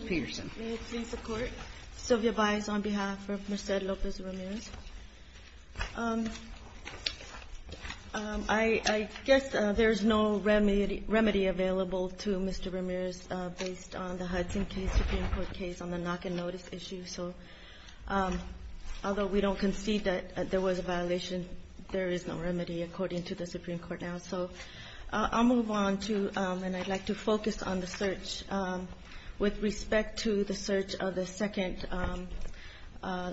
May it please the Court, Sylvia Baez on behalf of Merced Lopez-Ramirez. I guess there is no remedy available to Mr. Ramirez based on the Hudson case, Supreme Court case on the knock and notice issue. Although we don't concede that there was a violation, there is no remedy according to the Supreme Court now. So I'll move on to and I'd like to focus on the search with respect to the search of the second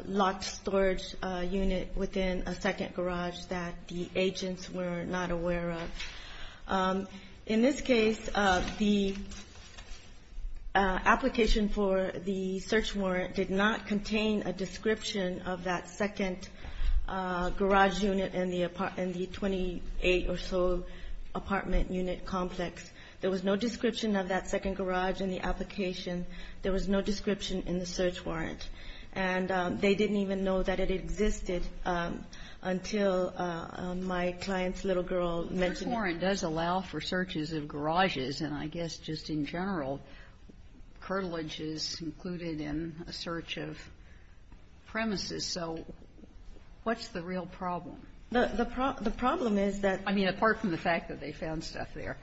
locked storage unit within a second garage that the agents were not aware of. In this case, the application for the search warrant did not contain a description of that second garage unit in the 28 or so apartment unit complex. There was no description of that second garage in the application. There was no description in the search warrant. And they didn't even know that it existed until my client's little girl mentioned it. So the search warrant does allow for searches of garages, and I guess just in general, curtilage is included in a search of premises. So what's the real problem? The problem is that the problem is that. I mean, apart from the fact that they found stuff there.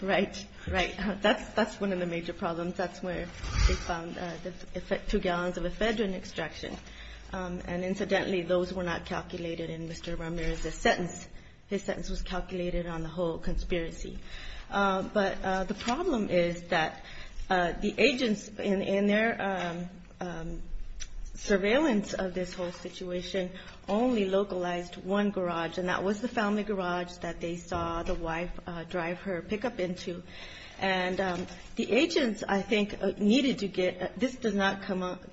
Right. Right. That's one of the major problems. That's where they found the two gallons of ephedrine extraction. And incidentally, those were not calculated in Mr. Ramirez's sentence. His sentence was calculated on the whole conspiracy. But the problem is that the agents, in their surveillance of this whole situation, only localized one garage, and that was the family garage that they saw the wife drive her pickup into. And the agents, I think, needed to get, this does not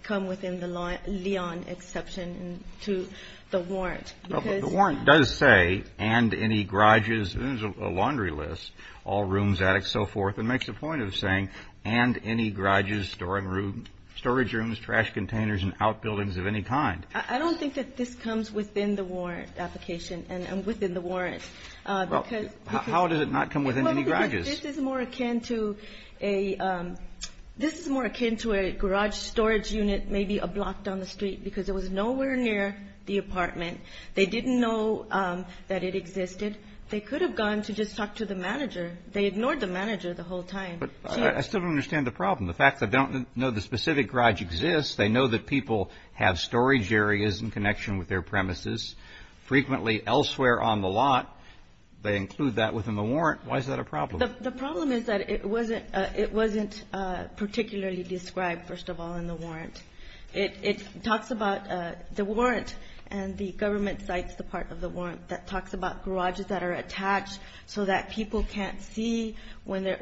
come within the Leon exception to the warrant. The warrant does say, and any garages, and there's a laundry list, all rooms, attic, so forth. It makes a point of saying, and any garages, storage rooms, trash containers, and outbuildings of any kind. I don't think that this comes within the warrant application and within the warrant. How does it not come within any garages? This is more akin to a garage storage unit, maybe a block down the street, because it was nowhere near the apartment. They didn't know that it existed. They could have gone to just talk to the manager. They ignored the manager the whole time. But I still don't understand the problem. The fact that they don't know the specific garage exists, they know that people have storage areas in connection with their premises, frequently elsewhere on the lot. They include that within the warrant. Why is that a problem? The problem is that it wasn't particularly described, first of all, in the warrant. It talks about the warrant and the government cites the part of the warrant that talks about garages that are attached so that people can't see when they're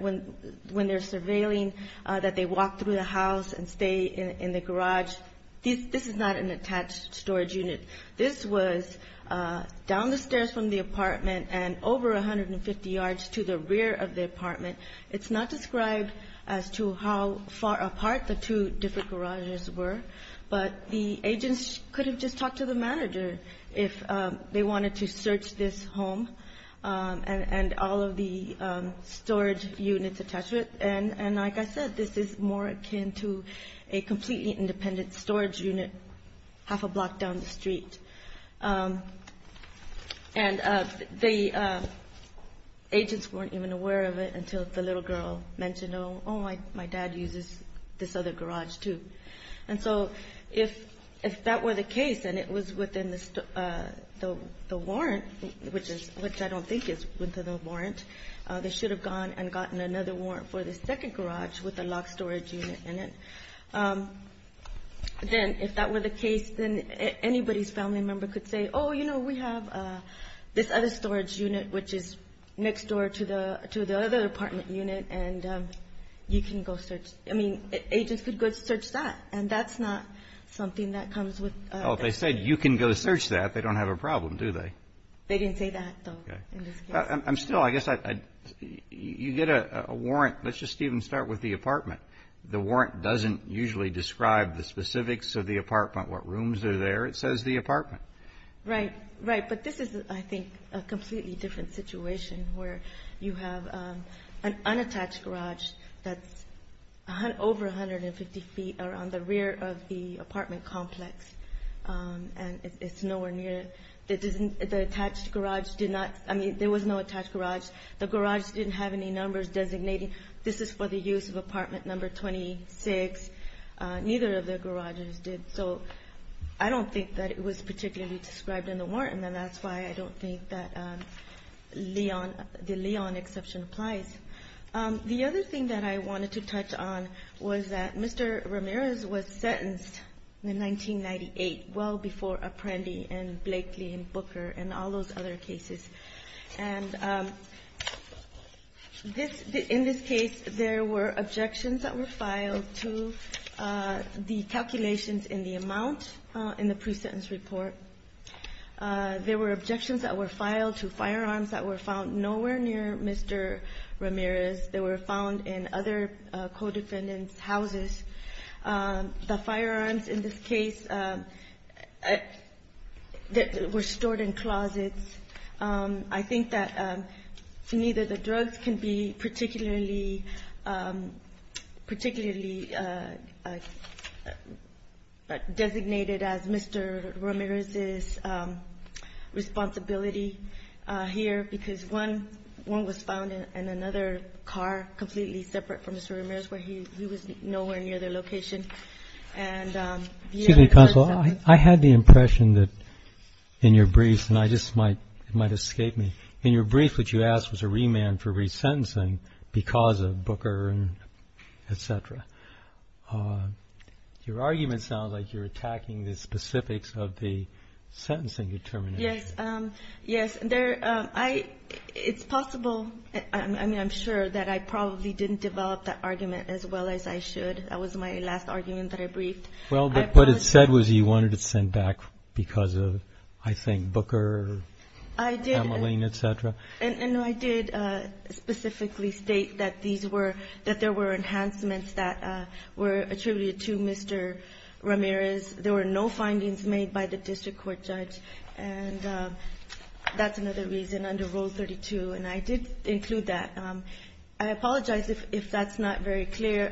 surveilling, that they walk through the house and stay in the garage. This is not an attached storage unit. This was down the stairs from the apartment and over 150 yards to the rear of the apartment. It's not described as to how far apart the two different garages were, but the agents could have just talked to the manager if they wanted to search this home and all of the storage units attached to it. And like I said, this is more akin to a completely independent storage unit half a block down the street. And the agents weren't even aware of it until the little girl mentioned, oh, my dad uses this other garage, too. And so if that were the case and it was within the warrant, which I don't think is within the warrant, they should have gone and gotten another warrant for the second garage with a locked storage unit in it. Then if that were the case, then anybody's family member could say, oh, you know, we have this other storage unit, which is next door to the other apartment unit, and you can go search. I mean, agents could go search that. And that's not something that comes with this. Well, if they said you can go search that, they don't have a problem, do they? They didn't say that, though, in this case. I'm still, I guess, you get a warrant. Let's just even start with the apartment. The warrant doesn't usually describe the specifics of the apartment, what rooms are there. It says the apartment. Right, right. But this is, I think, a completely different situation where you have an unattached garage that's over 150 feet around the rear of the apartment complex, and it's nowhere near. The attached garage did not, I mean, there was no attached garage. The garage didn't have any numbers designating this is for the use of apartment number 26. Neither of the garages did. So I don't think that it was particularly described in the warrant, and that's why I don't think that the Leon exception applies. The other thing that I wanted to touch on was that Mr. Ramirez was sentenced in 1998, well before Apprendi and Blakely and Booker and all those other cases. And this, in this case, there were objections that were filed to the calculations in the amount in the pre-sentence report. There were objections that were filed to firearms that were found nowhere near Mr. Ramirez. They were found in other co-defendants' houses. The firearms in this case were stored in closets. I think that neither the drugs can be particularly designated as Mr. Ramirez's responsibility here, because one was found in another car completely separate from Mr. Ramirez, where he was nowhere near their location. Excuse me, Counsel. I had the impression that in your briefs, and I just might, it might escape me, in your brief what you asked was a remand for resentencing because of Booker and et cetera. Your argument sounds like you're attacking the specifics of the sentencing determination. Yes. Yes, there, I, it's possible, I mean, I'm sure that I probably didn't develop that argument as well as I should. That was my last argument that I briefed. Well, what it said was you wanted it sent back because of, I think, Booker, Kamaline, et cetera. And I did specifically state that these were, that there were enhancements that were attributed to Mr. Ramirez. There were no findings made by the district court judge, and that's another reason under Rule 32, and I did include that. I apologize if that's not very clear.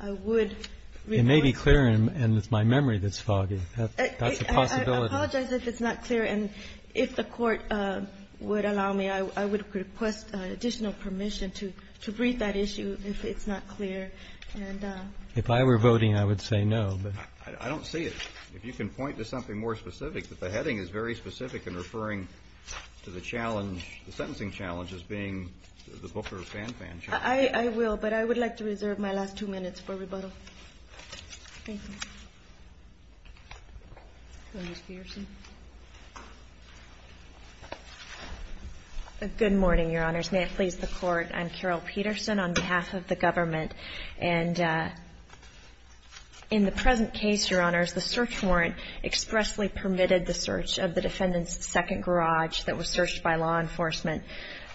I would request ---- It may be clear, and it's my memory that's foggy. That's a possibility. I apologize if it's not clear. And if the Court would allow me, I would request additional permission to brief that issue if it's not clear. And ---- If I were voting, I would say no. I don't see it. If you can point to something more specific, but the heading is very specific in referring to the challenge, the sentencing challenge as being the Booker-Fanfan challenge. I will, but I would like to reserve my last two minutes for rebuttal. Thank you. Ms. Peterson. Good morning, Your Honors. May it please the Court. I'm Carol Peterson on behalf of the government. And in the present case, Your Honors, the search warrant expressly permitted the search of the defendant's second garage that was searched by law enforcement.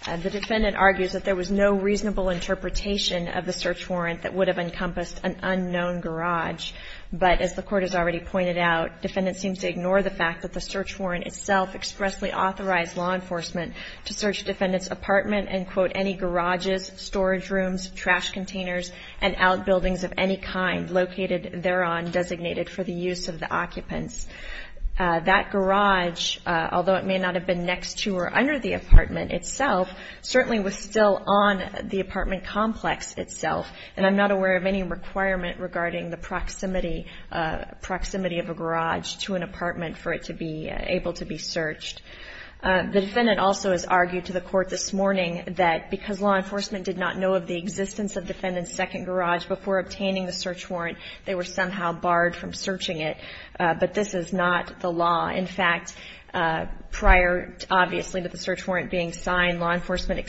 The defendant argues that there was no reasonable interpretation of the search warrant that would have encompassed an unknown garage. But as the Court has already pointed out, defendants seem to ignore the fact that the search warrant itself expressly authorized law enforcement to search defendants' apartment and, quote, any garages, storage rooms, trash containers, and outbuildings of any kind located thereon designated for the use of the occupants. That garage, although it may not have been next to or under the apartment itself, certainly was still on the apartment complex itself. And I'm not aware of any requirement regarding the proximity of a garage to an apartment for it to be able to be searched. The defendant also has argued to the Court this morning that because law enforcement did not know of the existence of defendant's second garage before obtaining the search warrant, they were somehow barred from searching it. But this is not the law. In fact, prior, obviously, to the search warrant being signed, law enforcement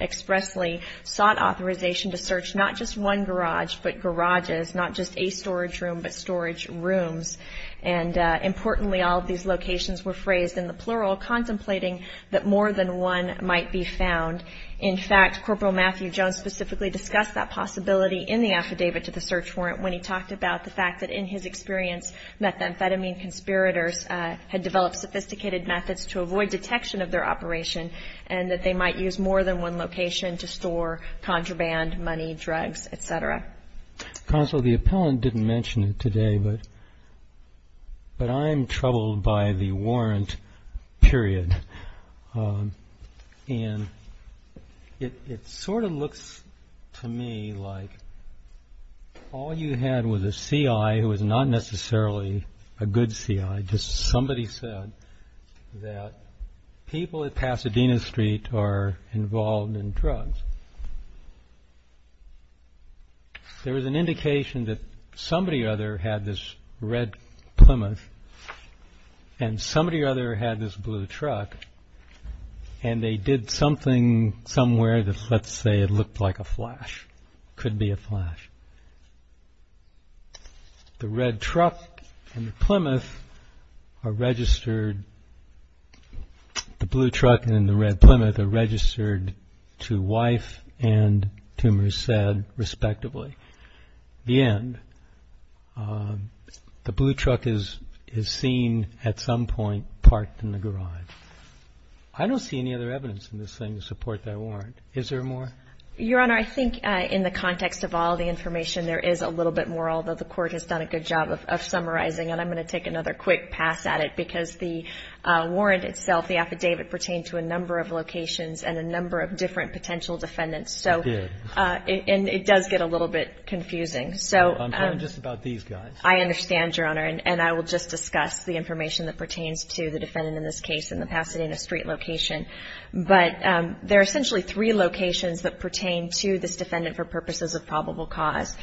expressly sought authorization to search not just one garage but garages, not just a storage room but storage rooms. And importantly, all of these locations were phrased in the plural, contemplating that more than one might be found. In fact, Corporal Matthew Jones specifically discussed that possibility in the affidavit to the search warrant when he talked about the fact that, in his experience, methamphetamine conspirators had developed sophisticated methods to avoid detection of their operation and that they might use more than one location to store contraband, money, drugs, et cetera. Counsel, the appellant didn't mention it today, but I'm troubled by the warrant period. And it sort of looks to me like all you had was a C.I. who was not necessarily a good C.I. Just somebody said that people at Pasadena Street are involved in drugs. There was an indication that somebody or other had this red Plymouth and somebody or other had this blue truck, and they did something somewhere that, let's say, it looked like a flash, could be a flash. The red truck and the Plymouth are registered, the blue truck and the red Plymouth are registered to Wife and to Merced, respectively. The end. The blue truck is seen at some point parked in the garage. I don't see any other evidence in this thing to support that warrant. Is there more? Your Honor, I think in the context of all the information, there is a little bit more, although the Court has done a good job of summarizing. And I'm going to take another quick pass at it because the warrant itself, the affidavit pertained to a number of locations and a number of different potential defendants. It did. And it does get a little bit confusing. I'm talking just about these guys. I understand, Your Honor, and I will just discuss the information that pertains to the defendant in this case in the Pasadena Street location. But there are essentially three locations that pertain to this defendant for purposes of probable cause.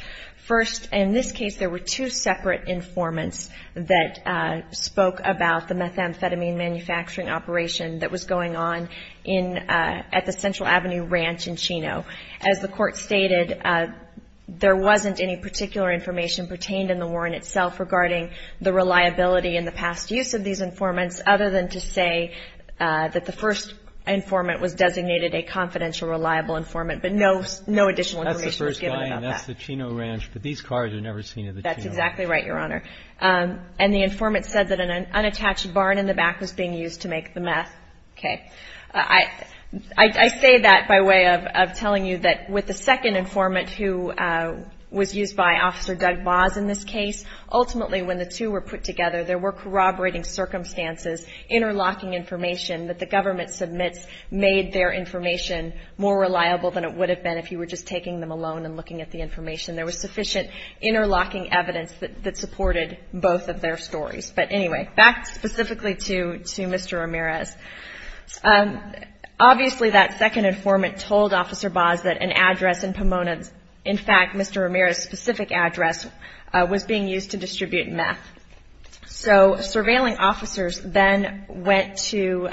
First, in this case, there were two separate informants that spoke about the methamphetamine manufacturing operation that was going on at the Central Avenue Ranch in Chino. As the Court stated, there wasn't any particular information pertained in the warrant itself regarding the reliability and the past use of these informants other than to say that the first informant was designated a confidential, reliable informant. But no additional information was given about that. That's the first guy, and that's the Chino Ranch. But these cars are never seen at the Chino Ranch. That's exactly right, Your Honor. And the informant said that an unattached barn in the back was being used to make the meth. Okay. I say that by way of telling you that with the second informant who was used by Officer Doug Baas in this case, ultimately when the two were put together, there were corroborating circumstances, interlocking information that the government submits made their information more reliable than it would have been if you were just taking them alone and looking at the information. There was sufficient interlocking evidence that supported both of their stories. But anyway, back specifically to Mr. Ramirez. Obviously, that second informant told Officer Baas that an address in Pomona, in fact, Mr. Ramirez's specific address, was being used to distribute meth. So surveilling officers then went to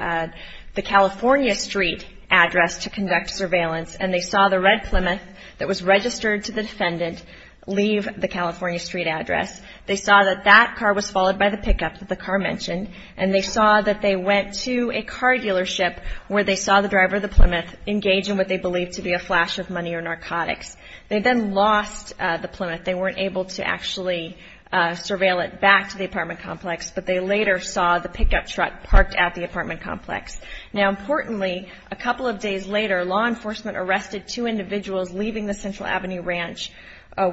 the California Street address to conduct surveillance, and they saw the red Plymouth that was registered to the defendant leave the California Street address. They saw that that car was followed by the pickup that the car mentioned, and they saw that they went to a car dealership where they saw the driver of the Plymouth engage in what they believed to be a flash of money or narcotics. They then lost the Plymouth. They weren't able to actually surveil it back to the apartment complex, but they later saw the pickup truck parked at the apartment complex. Now, importantly, a couple of days later, law enforcement arrested two individuals leaving the Central Avenue Ranch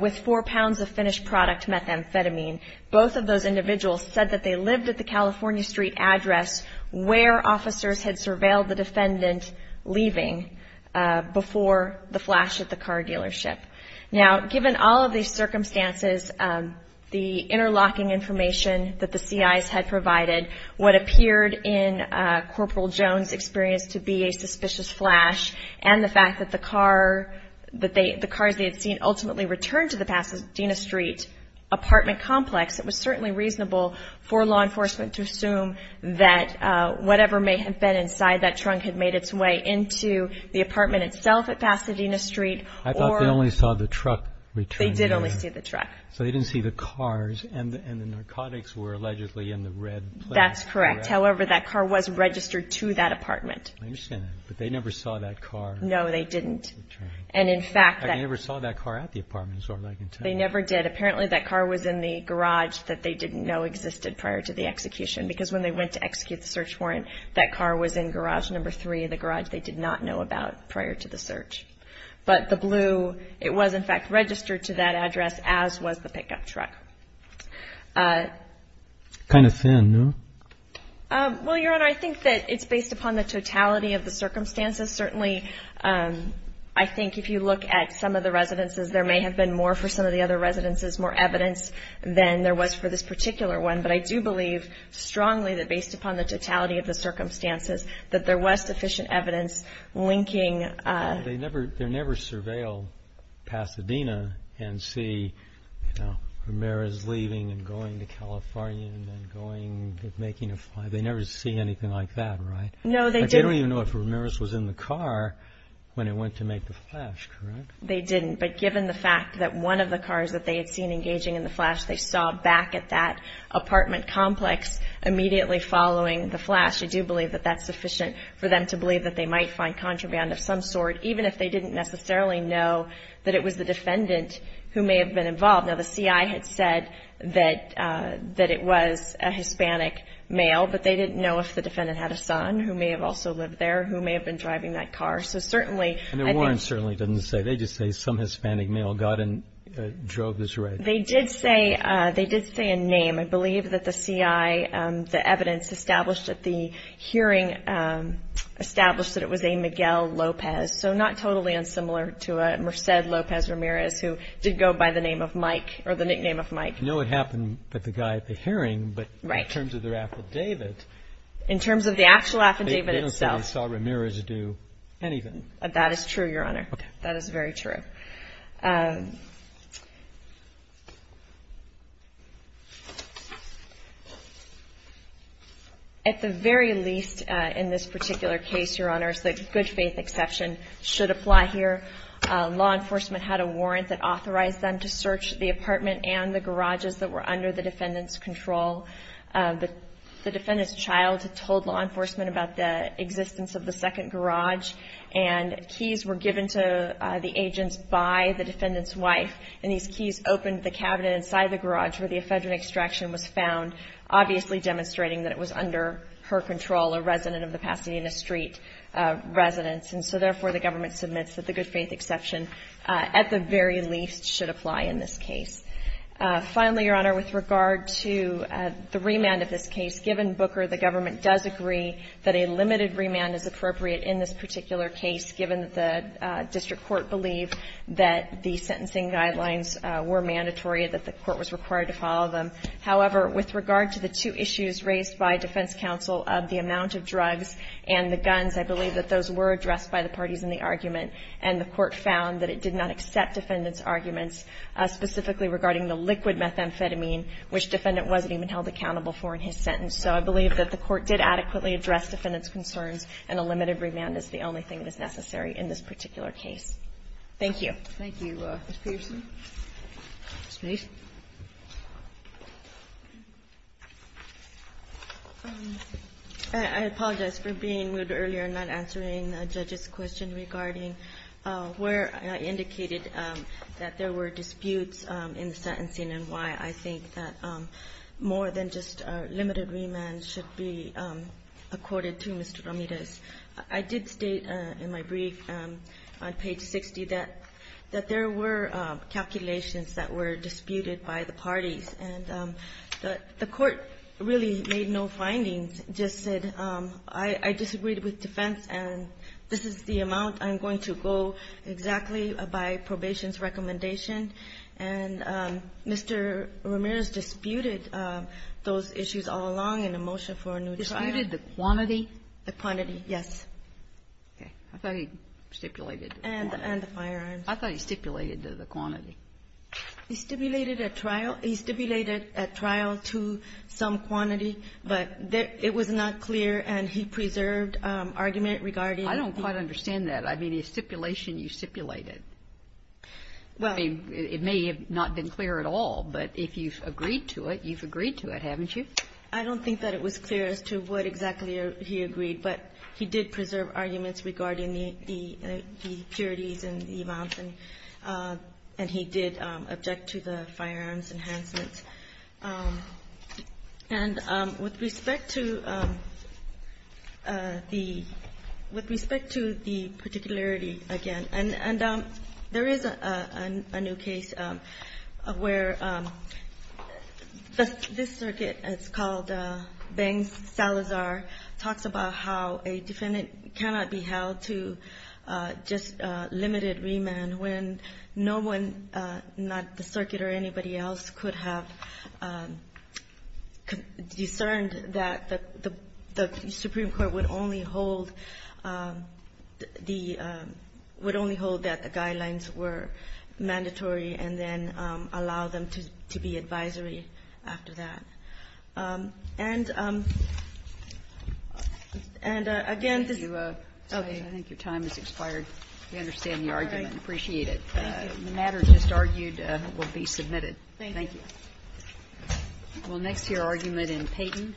with four pounds of finished product methamphetamine. Both of those individuals said that they lived at the California Street address where officers had surveilled the defendant leaving before the flash at the car dealership. Now, given all of these circumstances, the interlocking information that the CIs had provided, what appeared in Corporal Jones' experience to be a suspicious flash, and the fact that the cars they had seen ultimately returned to the Pasadena Street apartment complex, it was certainly reasonable for law enforcement to assume that whatever may have been inside that trunk had made its way into the apartment itself at Pasadena Street. I thought they only saw the truck return. They did only see the truck. So they didn't see the cars, and the narcotics were allegedly in the red place. That's correct. However, that car was registered to that apartment. I understand that, but they never saw that car return. No, they didn't. And in fact, they never saw that car at the apartment. They never did. Apparently, that car was in the garage that they didn't know existed prior to the execution because when they went to execute the search warrant, that car was in garage number three, the garage they did not know about prior to the search. But the blue, it was in fact registered to that address, as was the pickup truck. Kind of thin, no? Well, Your Honor, I think that it's based upon the totality of the circumstances. Certainly, I think if you look at some of the residences, there may have been more for some of the other residences, more evidence than there was for this particular one. But I do believe strongly that based upon the totality of the circumstances, that there was sufficient evidence linking. They never surveilled Pasadena and see, you know, Ramirez leaving and going to California and going and making a flight. They never see anything like that, right? No, they didn't. They don't even know if Ramirez was in the car when it went to make the flash, correct? They didn't. But given the fact that one of the cars that they had seen engaging in the flash, they saw back at that apartment complex immediately following the flash, I do believe that that's sufficient for them to believe that they might find contraband of some sort, even if they didn't necessarily know that it was the defendant who may have been involved. Now, the CI had said that it was a Hispanic male, but they didn't know if the defendant had a son who may have also lived there, who may have been driving that car. And the warrant certainly didn't say. They just say some Hispanic male got in and drove this red. They did say a name. I believe that the CI, the evidence established at the hearing established that it was a Miguel Lopez, so not totally unsimilar to a Merced Lopez Ramirez who did go by the name of Mike or the nickname of Mike. I know it happened with the guy at the hearing, but in terms of their affidavit. In terms of the actual affidavit itself. I don't think the CI saw Ramirez do anything. That is true, Your Honor. That is very true. At the very least, in this particular case, Your Honor, the good faith exception should apply here. Law enforcement had a warrant that authorized them to search the apartment and the garages that were under the defendant's control. The defendant's child told law enforcement about the existence of the second garage and keys were given to the agents by the defendant's wife. And these keys opened the cabinet inside the garage where the ephedrine extraction was found, obviously demonstrating that it was under her control, a resident of the Pasadena Street residence. And so, therefore, the government submits that the good faith exception, at the very least, should apply in this case. Finally, Your Honor, with regard to the remand of this case, given Booker the government does agree that a limited remand is appropriate in this particular case given that the district court believed that the sentencing guidelines were mandatory, that the court was required to follow them. However, with regard to the two issues raised by defense counsel of the amount of drugs and the guns, I believe that those were addressed by the parties in the argument, and the court found that it did not accept defendant's arguments specifically regarding the liquid methamphetamine, which defendant wasn't even held accountable for in his sentence. So I believe that the court did adequately address defendant's concerns and a limited remand is the only thing that is necessary in this particular case. Thank you. Kagan. Thank you, Ms. Peterson. Ms. Mason. I apologize for being rude earlier and not answering the judge's question regarding where I indicated that there were disputes in the sentencing and why I think that more than just a limited remand should be accorded to Mr. Ramirez. I did state in my brief on page 60 that there were calculations that were disputed by the parties, and the court really made no findings, just said I disagreed with defense and this is the amount I'm going to go exactly by probation's recommendation, and Mr. Ramirez disputed those issues all along in a motion for a new trial. Disputed the quantity? The quantity, yes. Okay. I thought he stipulated the quantity. And the firearms. I thought he stipulated the quantity. He stipulated a trial. He stipulated a trial to some quantity, but it was not clear, and he preserved argument regarding the ---- I don't quite understand that. I mean, the stipulation you stipulated, it may have not been clear at all, but if you've agreed to it, you've agreed to it, haven't you? I don't think that it was clear as to what exactly he agreed, but he did preserve arguments regarding the impurities and the amounts, and he did object to the firearms enhancements. And with respect to the particularity, again, and there is a new case where this circuit, it's called Banks-Salazar, talks about how a defendant cannot be held to just limited remand when no one, not the circuit or anybody else, has the authority to do so. think that any of us could have discerned that the Supreme Court would only hold the ---- would only hold that the guidelines were mandatory and then allow them to be advisory after that. And again, this is ---- Kagan, I think your time has expired. We understand the argument and appreciate it. Thank you. The matter just argued will be submitted. Thank you. Well, next, your argument in Peyton. Thank you.